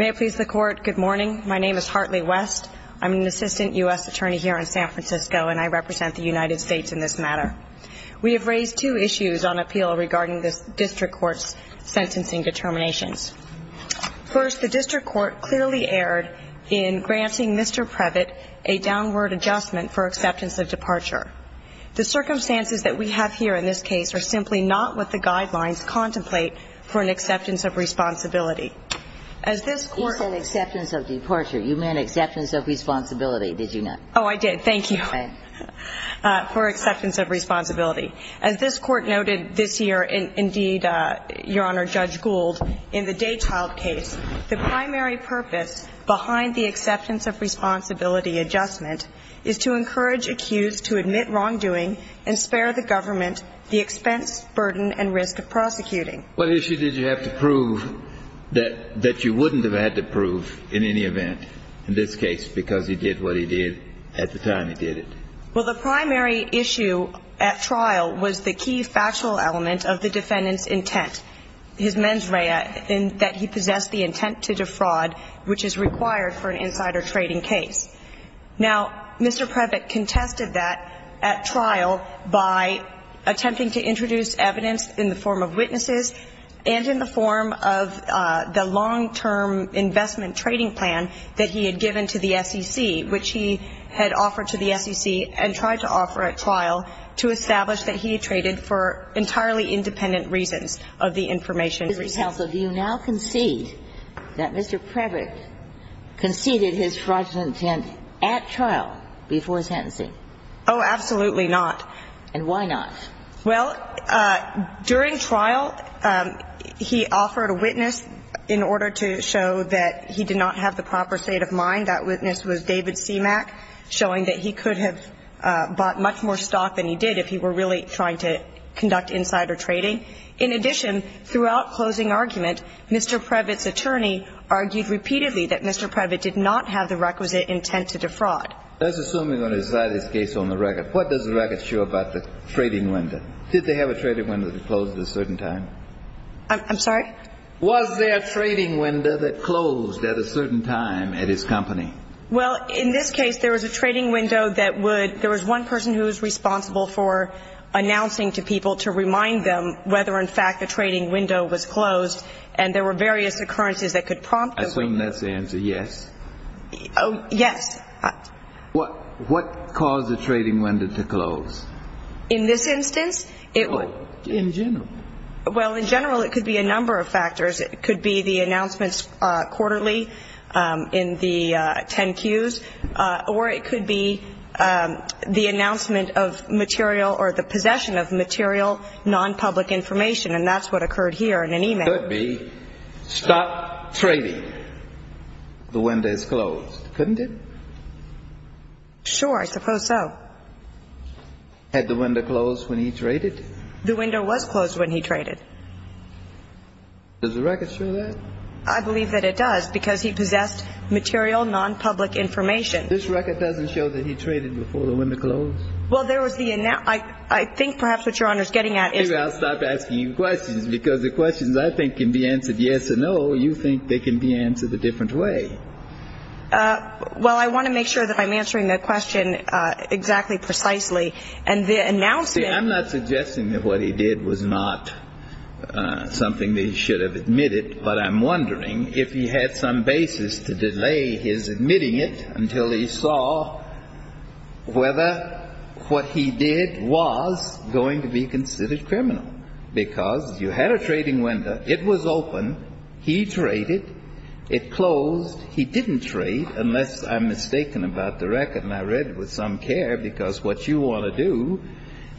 May it please the Court, good morning. My name is Hartley West. I'm an assistant U.S. attorney here in San Francisco, and I represent the United States in this matter. We have raised two issues on appeal regarding the District Court's sentencing determinations. First, the District Court clearly erred in granting Mr. Prevett a downward adjustment for acceptance of departure. The circumstances that we have here in this case are simply not what the guidelines contemplate for an acceptance of responsibility. As this Court – You said acceptance of departure. You meant acceptance of responsibility, did you not? Oh, I did. Thank you. Okay. For acceptance of responsibility. As this Court noted this year, indeed, Your Honor, Judge Gould, in the Day Child case, the primary purpose behind the acceptance of responsibility adjustment is to encourage accused to admit wrongdoing and spare the government the expense, burden, and risk of prosecuting. What issue did you have to prove that you wouldn't have had to prove in any event, in this case, because he did what he did at the time he did it? Well, the primary issue at trial was the key factual element of the defendant's intent, his mens rea, in that he possessed the intent to defraud, which is required for an insider trading case. Now, Mr. Prevett contested that at trial by attempting to introduce evidence in the form of witnesses and tried to offer at trial to establish that he traded for entirely independent reasons of the information. Justice Ginsburg, do you now concede that Mr. Prevett conceded his fraudulent intent at trial before his sentencing? Oh, absolutely not. And why not? Well, during trial, he offered a witness in order to show that he did not have the proper state of mind. That witness was David Semak, showing that he could have bought much more stock than he did if he were really trying to conduct insider trading. In addition, throughout closing argument, Mr. Prevett's attorney argued repeatedly that Mr. Prevett did not have the requisite intent to defraud. Let's assume we're going to decide this case on the record. What does the record show about the trading window? Did they have a trading window that closed at a certain time? I'm sorry? Was there a trading window that closed at a certain time at his company? Well, in this case, there was a trading window that would – there was one person who was responsible for announcing to people to remind them whether, in fact, the trading window was closed, and there were various occurrences that could prompt a window. I assume that's the answer, yes? Yes. What caused the trading window to close? In this instance, it would – In general. Well, in general, it could be a number of factors. It could be the announcements quarterly in the 10 Qs, or it could be the announcement of material or the possession of material nonpublic information, and that's what occurred here in an email. It could be, stop trading. The window is closed. Couldn't it? Sure, I suppose so. Had the window closed when he traded? The window was closed when he traded. Does the record show that? I believe that it does, because he possessed material nonpublic information. This record doesn't show that he traded before the window closed? Well, there was the – I think perhaps what Your Honor is getting at is – Maybe I'll stop asking you questions, because the questions I think can be answered yes or no. You think they can be answered a different way. Well, I want to make sure that I'm answering the question exactly precisely, and the announcement – See, I'm not suggesting that what he did was not something that he should have admitted, but I'm wondering if he had some basis to delay his admitting it until he saw whether what he did was going to be considered criminal, because you had a trading window. It was open. He traded. It closed. He didn't trade, unless I'm mistaken about the record. And I read it with some care, because what you want to do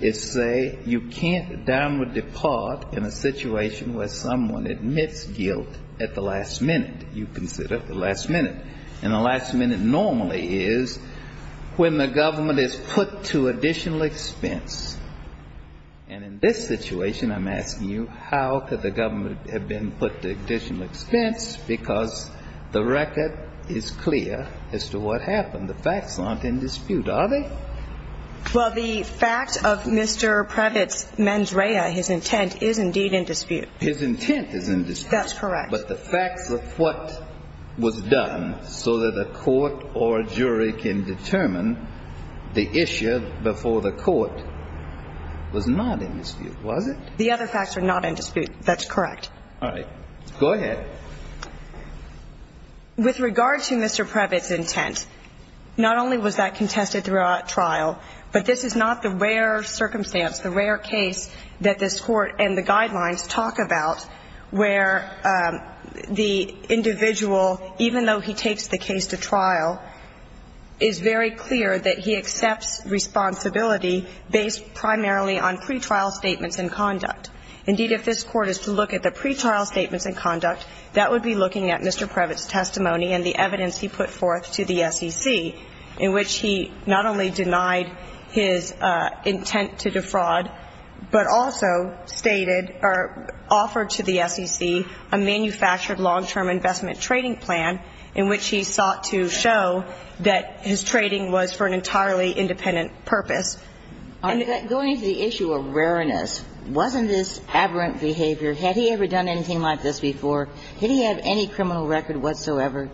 is say you can't downward depart in a situation where someone admits guilt at the last minute. You consider the last minute. And the last minute normally is when the government is put to additional expense. And in this situation, I'm asking you how could the government have been put to additional expense, because the record is clear as to what happened. And the facts aren't in dispute, are they? Well, the facts of Mr. Previtt's mens rea, his intent, is indeed in dispute. His intent is in dispute. That's correct. But the facts of what was done so that a court or jury can determine the issue before the court was not in dispute, was it? The other facts are not in dispute. That's correct. All right. Go ahead. With regard to Mr. Previtt's intent, not only was that contested throughout trial, but this is not the rare circumstance, the rare case that this Court and the guidelines talk about, where the individual, even though he takes the case to trial, is very clear that he accepts responsibility based primarily on pretrial statements in conduct. Indeed, if this Court is to look at the pretrial statements in conduct, that would be looking at Mr. Previtt's testimony and the evidence he put forth to the SEC, in which he not only denied his intent to defraud, but also stated or offered to the SEC a manufactured long-term investment trading plan in which he sought to show that his trading was for an entirely independent purpose. Going to the issue of rareness, wasn't this aberrant behavior? Had he ever done anything like this before? Did he have any criminal record whatsoever?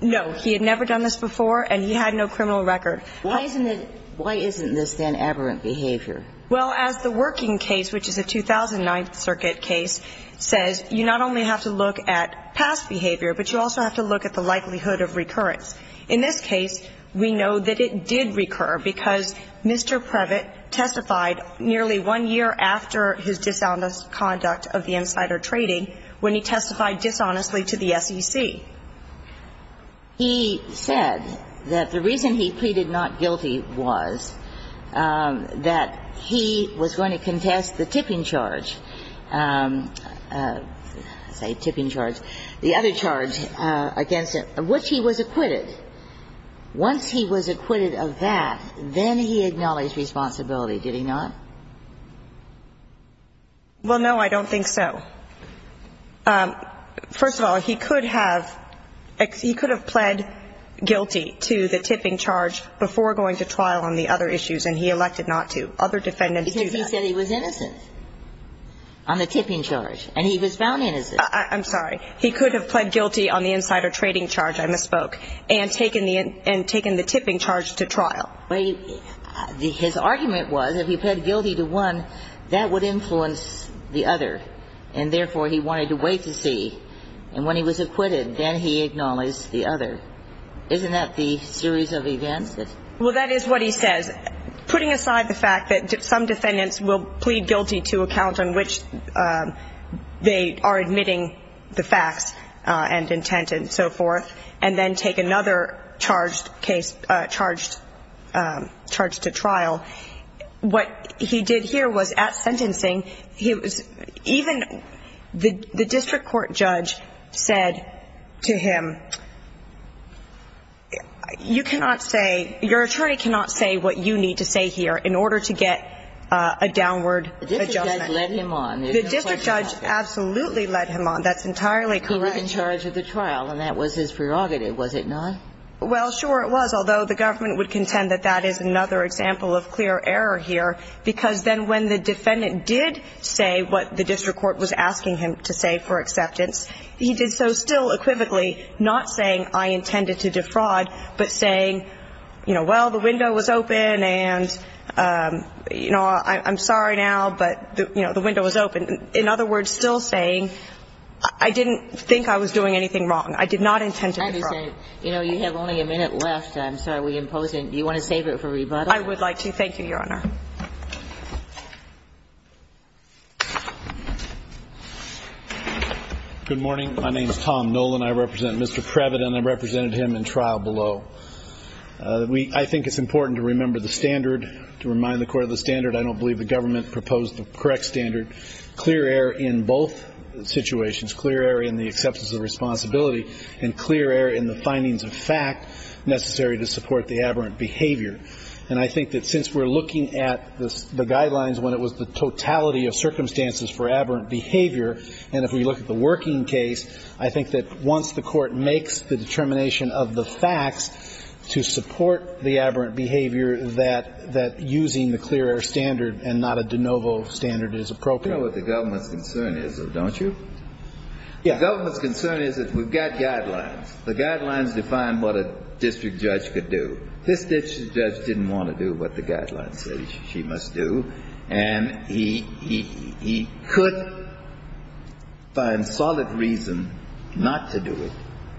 No. He had never done this before, and he had no criminal record. Why isn't it – why isn't this, then, aberrant behavior? Well, as the working case, which is a 2009 circuit case, says, you not only have to look at past behavior, but you also have to look at the likelihood of recurrence. In this case, we know that it did recur because Mr. Previtt testified nearly one year after his dishonest conduct of the insider trading when he testified dishonestly to the SEC. He said that the reason he pleaded not guilty was that he was going to contest the tipping charge, say, tipping charge, the other charge against him, which he was acquitted of. Once he was acquitted of that, then he acknowledged responsibility. Did he not? Well, no, I don't think so. First of all, he could have – he could have pled guilty to the tipping charge before going to trial on the other issues, and he elected not to. Other defendants do that. Because he said he was innocent on the tipping charge, and he was found innocent. I'm sorry. He could have pled guilty on the insider trading charge. I misspoke. And taken the tipping charge to trial. His argument was if he pled guilty to one, that would influence the other, and therefore he wanted to wait to see. And when he was acquitted, then he acknowledged the other. Isn't that the series of events? Well, that is what he says. Putting aside the fact that some defendants will plead guilty to a count on which they are admitting the facts and intent and so forth, and then take another charge to trial. What he did here was at sentencing, even the district court judge said to him, you cannot say – your attorney cannot say what you need to say here in order to get a downward adjustment. The district judge led him on. The district judge absolutely led him on. That's entirely correct. He was in charge of the trial, and that was his prerogative, was it not? Well, sure it was, although the government would contend that that is another example of clear error here. Because then when the defendant did say what the district court was asking him to say for acceptance, he did so still equivocally, not saying I intended to defraud, but saying, you know, well, the window was open and, you know, I'm sorry now, but, you know, the window was open. In other words, still saying I didn't think I was doing anything wrong. I did not intend to defraud. I understand. You know, you have only a minute left. I'm sorry. We impose it. Do you want to save it for rebuttal? I would like to. Thank you, Your Honor. Good morning. My name is Tom Nolan. I represent Mr. Previtt, and I represented him in trial below. I think it's important to remember the standard, to remind the Court of the standard I don't believe the government proposed the correct standard, clear error in both situations, clear error in the acceptance of responsibility, and clear error in the findings of fact necessary to support the aberrant behavior. And I think that since we're looking at the guidelines when it was the totality of circumstances for aberrant behavior, and if we look at the working case, I think that once the Court makes the determination of the facts to support the aberrant behavior, that using the clear error standard and not a de novo standard is appropriate. You know what the government's concern is, though, don't you? Yeah. The government's concern is that we've got guidelines. The guidelines define what a district judge could do. This district judge didn't want to do what the guidelines said he must do, and he could find solid reason not to do it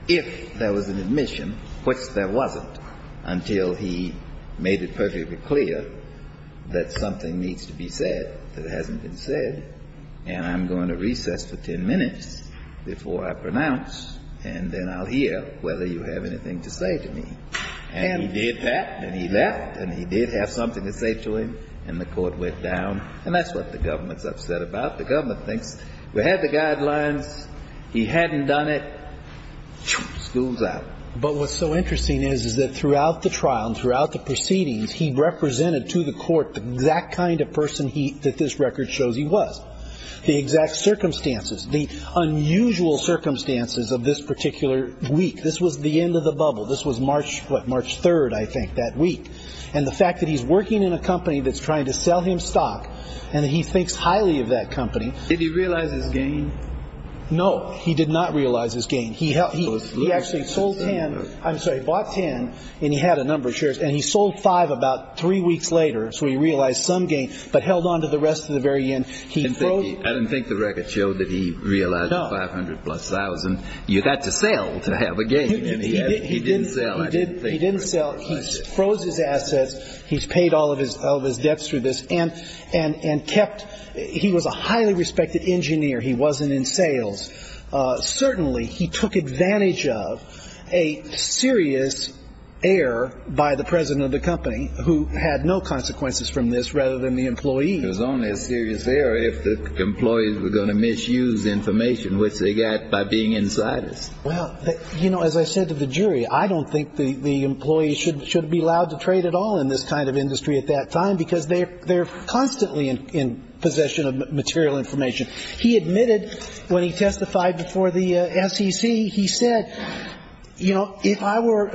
if there was an admission, which there wasn't, until he made it perfectly clear that something needs to be said that hasn't been said, and I'm going to recess for 10 minutes before I pronounce, and then I'll hear whether you have anything to say to me. And he did that, and he left, and he did have something to say to him, and the Court went down. And that's what the government's upset about. The government thinks we had the guidelines, he hadn't done it, school's out. But what's so interesting is, is that throughout the trial and throughout the proceedings, he represented to the Court the exact kind of person that this record shows he was, the exact circumstances, the unusual circumstances of this particular week. This was the end of the bubble. This was March, what, March 3rd, I think, that week. And the fact that he's working in a company that's trying to sell him stock, and that he thinks highly of that company. Did he realize his gain? No, he did not realize his gain. He actually sold 10, I'm sorry, bought 10, and he had a number of shares. And he sold five about three weeks later, so he realized some gain, but held on to the rest of the very end. I don't think the record showed that he realized 500 plus thousand. You've got to sell to have a gain. He didn't sell. He froze his assets. He's paid all of his debts through this. And kept, he was a highly respected engineer. He wasn't in sales. Certainly, he took advantage of a serious error by the president of the company, who had no consequences from this, rather than the employee. It was only a serious error if the employees were going to misuse information, which they got by being insidious. Well, you know, as I said to the jury, I don't think the employee should be allowed to trade at all in this kind of industry at that time, because they're constantly in possession of material information. He admitted, when he testified before the SEC, he said, you know, if I were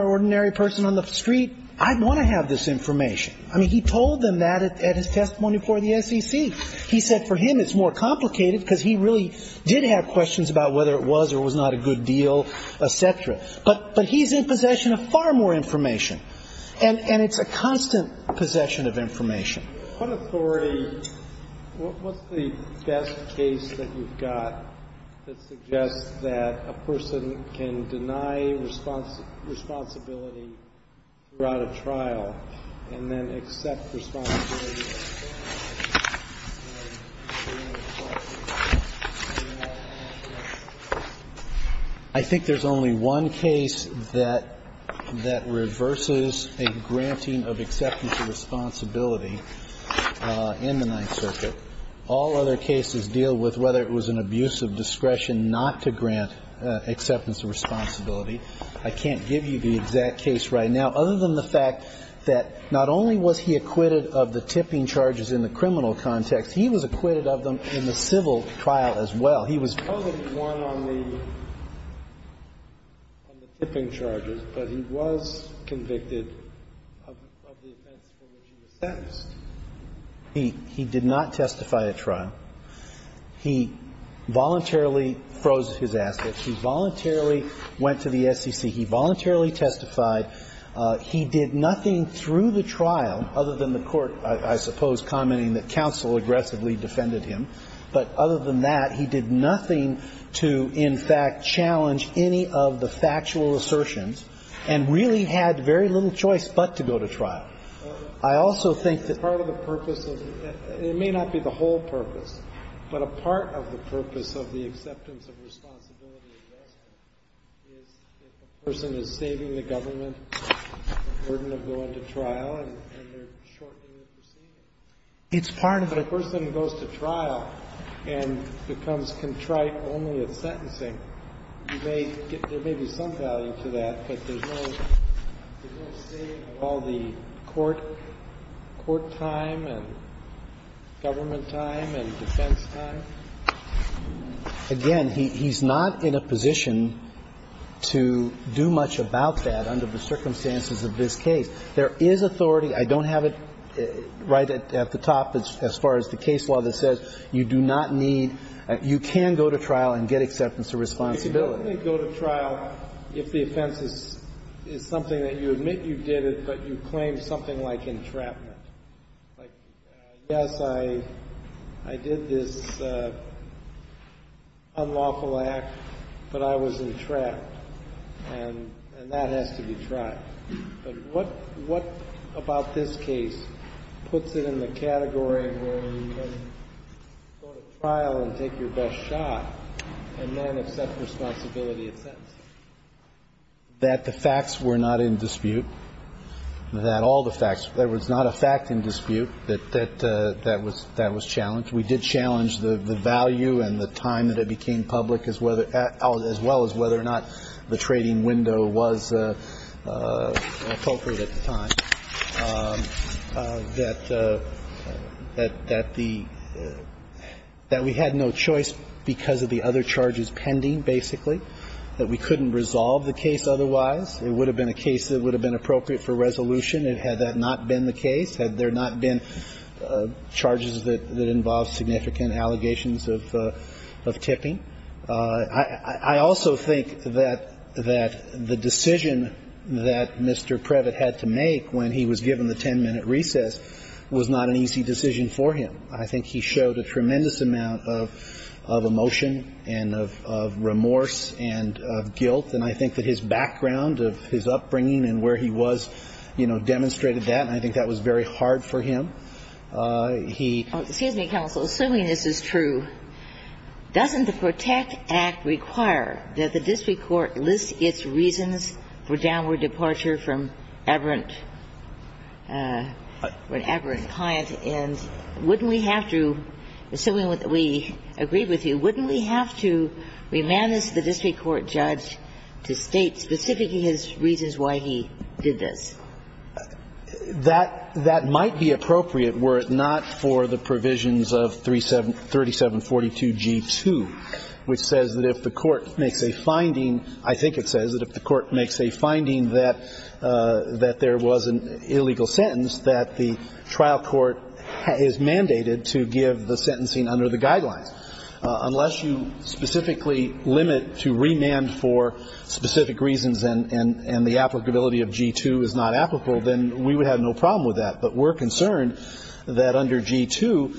an ordinary person on the street, I'd want to have this information. I mean, he told them that at his testimony before the SEC. He said for him it's more complicated, because he really did have questions about whether it was or was not a good deal, et cetera. But he's in possession of far more information. And it's a constant possession of information. What authority – what's the best case that you've got that suggests that a person can deny responsibility throughout a trial and then accept responsibility after that? I think there's only one case that reverses a granting of acceptance of responsibility. In the Ninth Circuit, all other cases deal with whether it was an abuse of discretion not to grant acceptance of responsibility. I can't give you the exact case right now, other than the fact that not only was he acquitted of the tipping charges in the criminal context, he was acquitted of them in the civil trial as well. He did not testify at trial. He voluntarily froze his assets. He voluntarily went to the SEC. He voluntarily testified. He did nothing through the trial, other than the Court, I suppose, commenting that counsel aggressively defended him. But other than that, he did nothing. He did nothing to, in fact, challenge any of the factual assertions and really had very little choice but to go to trial. I also think that part of the purpose of the – it may not be the whole purpose, but a part of the purpose of the acceptance of responsibility adjustment is if a person is saving the government the burden of going to trial and they're shortening the proceedings. It's part of the – If a person goes to trial and becomes contrite only at sentencing, you may get – there may be some value to that, but there's no – there's no state of all the court time and government time and defense time. Again, he's not in a position to do much about that under the circumstances of this case. There is authority. I don't have it right at the top as far as the case law that says you do not need – you can go to trial and get acceptance of responsibility. Go to trial if the offense is something that you admit you did it, but you claim something like entrapment. Like, yes, I did this unlawful act, but I was entrapped, and that has to be tried. But what about this case puts it in the category where you can go to trial and take your best shot and then accept responsibility at sentencing? That the facts were not in dispute, that all the facts – there was not a fact in dispute that that was challenged. We did challenge the value and the time that it became public as well as whether or not the trading window was appropriate at the time, that the – that we had no choice because of the other charges pending, basically, that we couldn't resolve the case otherwise. It would have been a case that would have been appropriate for resolution had that not been the case, had there not been charges that involved significant allegations of tipping. I also think that the decision that Mr. Previtt had to make when he was given the 10-minute recess was not an easy decision for him. I think he showed a tremendous amount of emotion and of remorse and of guilt, and I think that his background of his upbringing and where he was, you know, demonstrated that, and I think that was very hard for him. He – Excuse me, counsel. Assuming this is true, doesn't the PROTECT Act require that the district court list its reasons for downward departure from aberrant – from an aberrant client, and wouldn't we have to – assuming we agree with you, wouldn't we have to remand this to the district court judge to state specifically his reasons why he did this? That – that might be appropriate were it not for the provisions of 37 – 3742G2, which says that if the court makes a finding – I think it says that if the court makes a finding that there was an illegal sentence, that the trial court is mandated to give the sentencing under the guidelines. Unless you specifically limit to remand for specific reasons and the applicability of G2 is not applicable, then we would have no problem with that. But we're concerned that under G2,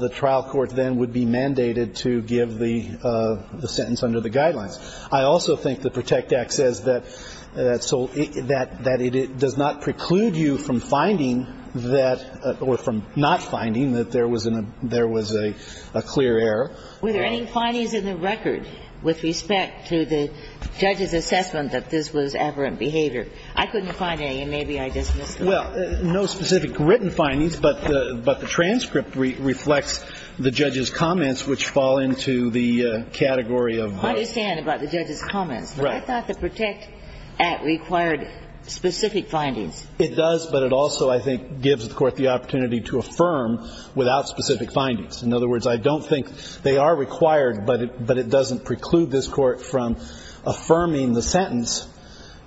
the trial court then would be mandated to give the – the sentence under the guidelines. I also think the PROTECT Act says that – that it does not preclude you from finding that – or from not finding that there was an – there was a clear error. Were there any findings in the record with respect to the judge's assessment that this was aberrant behavior? I couldn't find any, and maybe I just missed them. Well, no specific written findings, but the – but the transcript reflects the judge's comments, which fall into the category of – I understand about the judge's comments. Right. But I thought the PROTECT Act required specific findings. It does, but it also, I think, gives the court the opportunity to affirm without specific findings. In other words, I don't think they are required, but it – but it doesn't preclude this court from affirming the sentence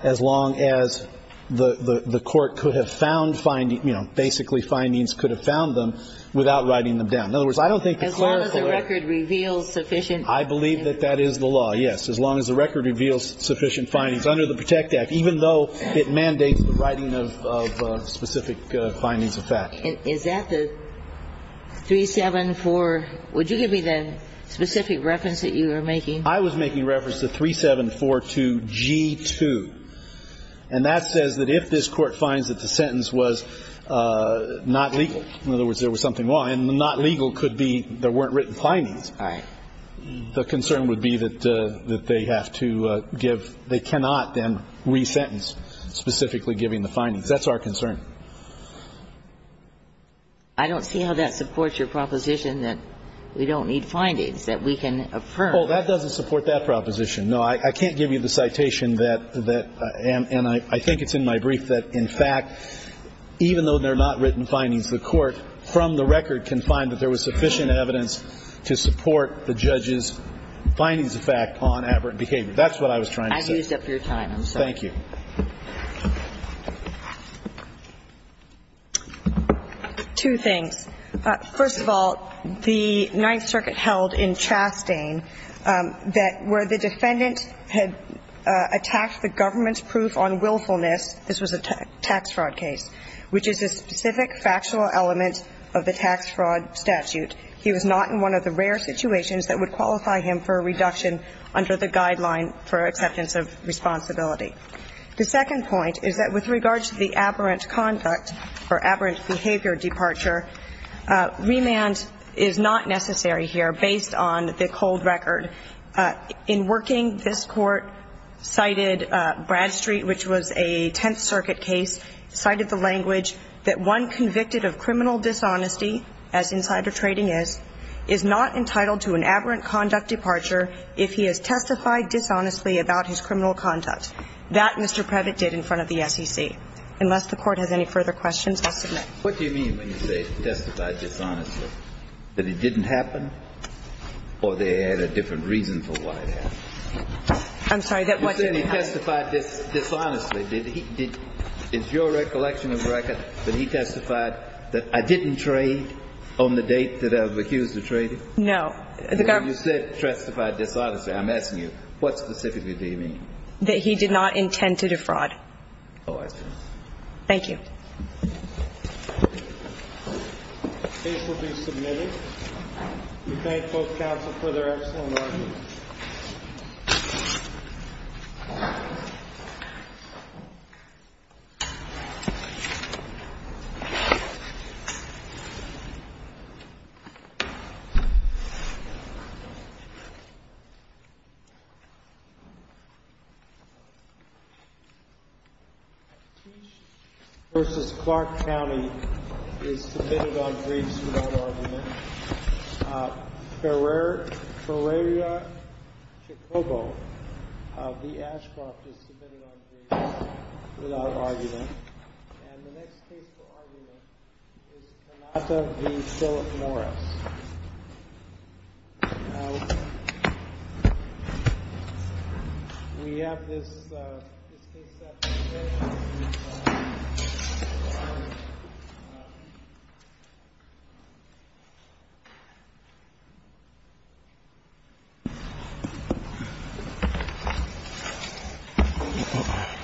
as long as the – the court could have found – you know, basically findings could have found them without writing them down. In other words, I don't think it's – As long as the record reveals sufficient – I believe that that is the law, yes, as long as the record reveals sufficient findings under the PROTECT Act, even though it mandates the writing of specific findings of fact. Is that the 374 – would you give me the specific reference that you were making? I was making reference to 3742G2, and that says that if this court finds that the sentence was not legal – in other words, there was something wrong, and not legal could be there weren't written findings. All right. The concern would be that they have to give – they cannot then re-sentence specifically giving the findings. That's our concern. I don't see how that supports your proposition that we don't need findings, that we can affirm. Oh, that doesn't support that proposition, no. I can't give you the citation that – and I think it's in my brief that, in fact, even though there are not written findings, the court, from the record, can find that there was sufficient evidence to support the judge's findings of fact on aberrant behavior. That's what I was trying to say. I've used up your time. Thank you. Two things. First of all, the Ninth Circuit held in Chastain that where the defendant had attacked the government's proof on willfulness, this was a tax fraud case, which is a specific factual element of the tax fraud statute. He was not in one of the rare situations that would qualify him for a reduction under the guideline for acceptance of responsibility. The second point is that with regard to the aberrant conduct or aberrant behavior departure, remand is not necessary here based on the cold record. In working, this court cited Bradstreet, which was a Tenth Circuit case, cited the language that one convicted of criminal dishonesty, as insider trading is, is not entitled to an aberrant conduct departure if he has testified dishonestly about his criminal conduct. That Mr. Previtt did in front of the SEC. Unless the court has any further questions, I'll submit. What do you mean when you say testified dishonestly? That it didn't happen? Or they had a different reason for why it happened? I'm sorry. You said he testified dishonestly. Is your recollection of record that he testified that I didn't trade on the date that I was accused of trading? No. You said testified dishonestly. I'm asking you, what specifically do you mean? That he did not intend to defraud. Oh, I see. Thank you. The case will be submitted. We thank both counsel for their excellent arguments. Thank you. versus Clark County is submitted on briefs without argument. Ferreira Chacobo of the Ashcroft is submitted on briefs without argument. And the next case for argument is Tanata v. Philip Norris. Now, we have this case up in the air.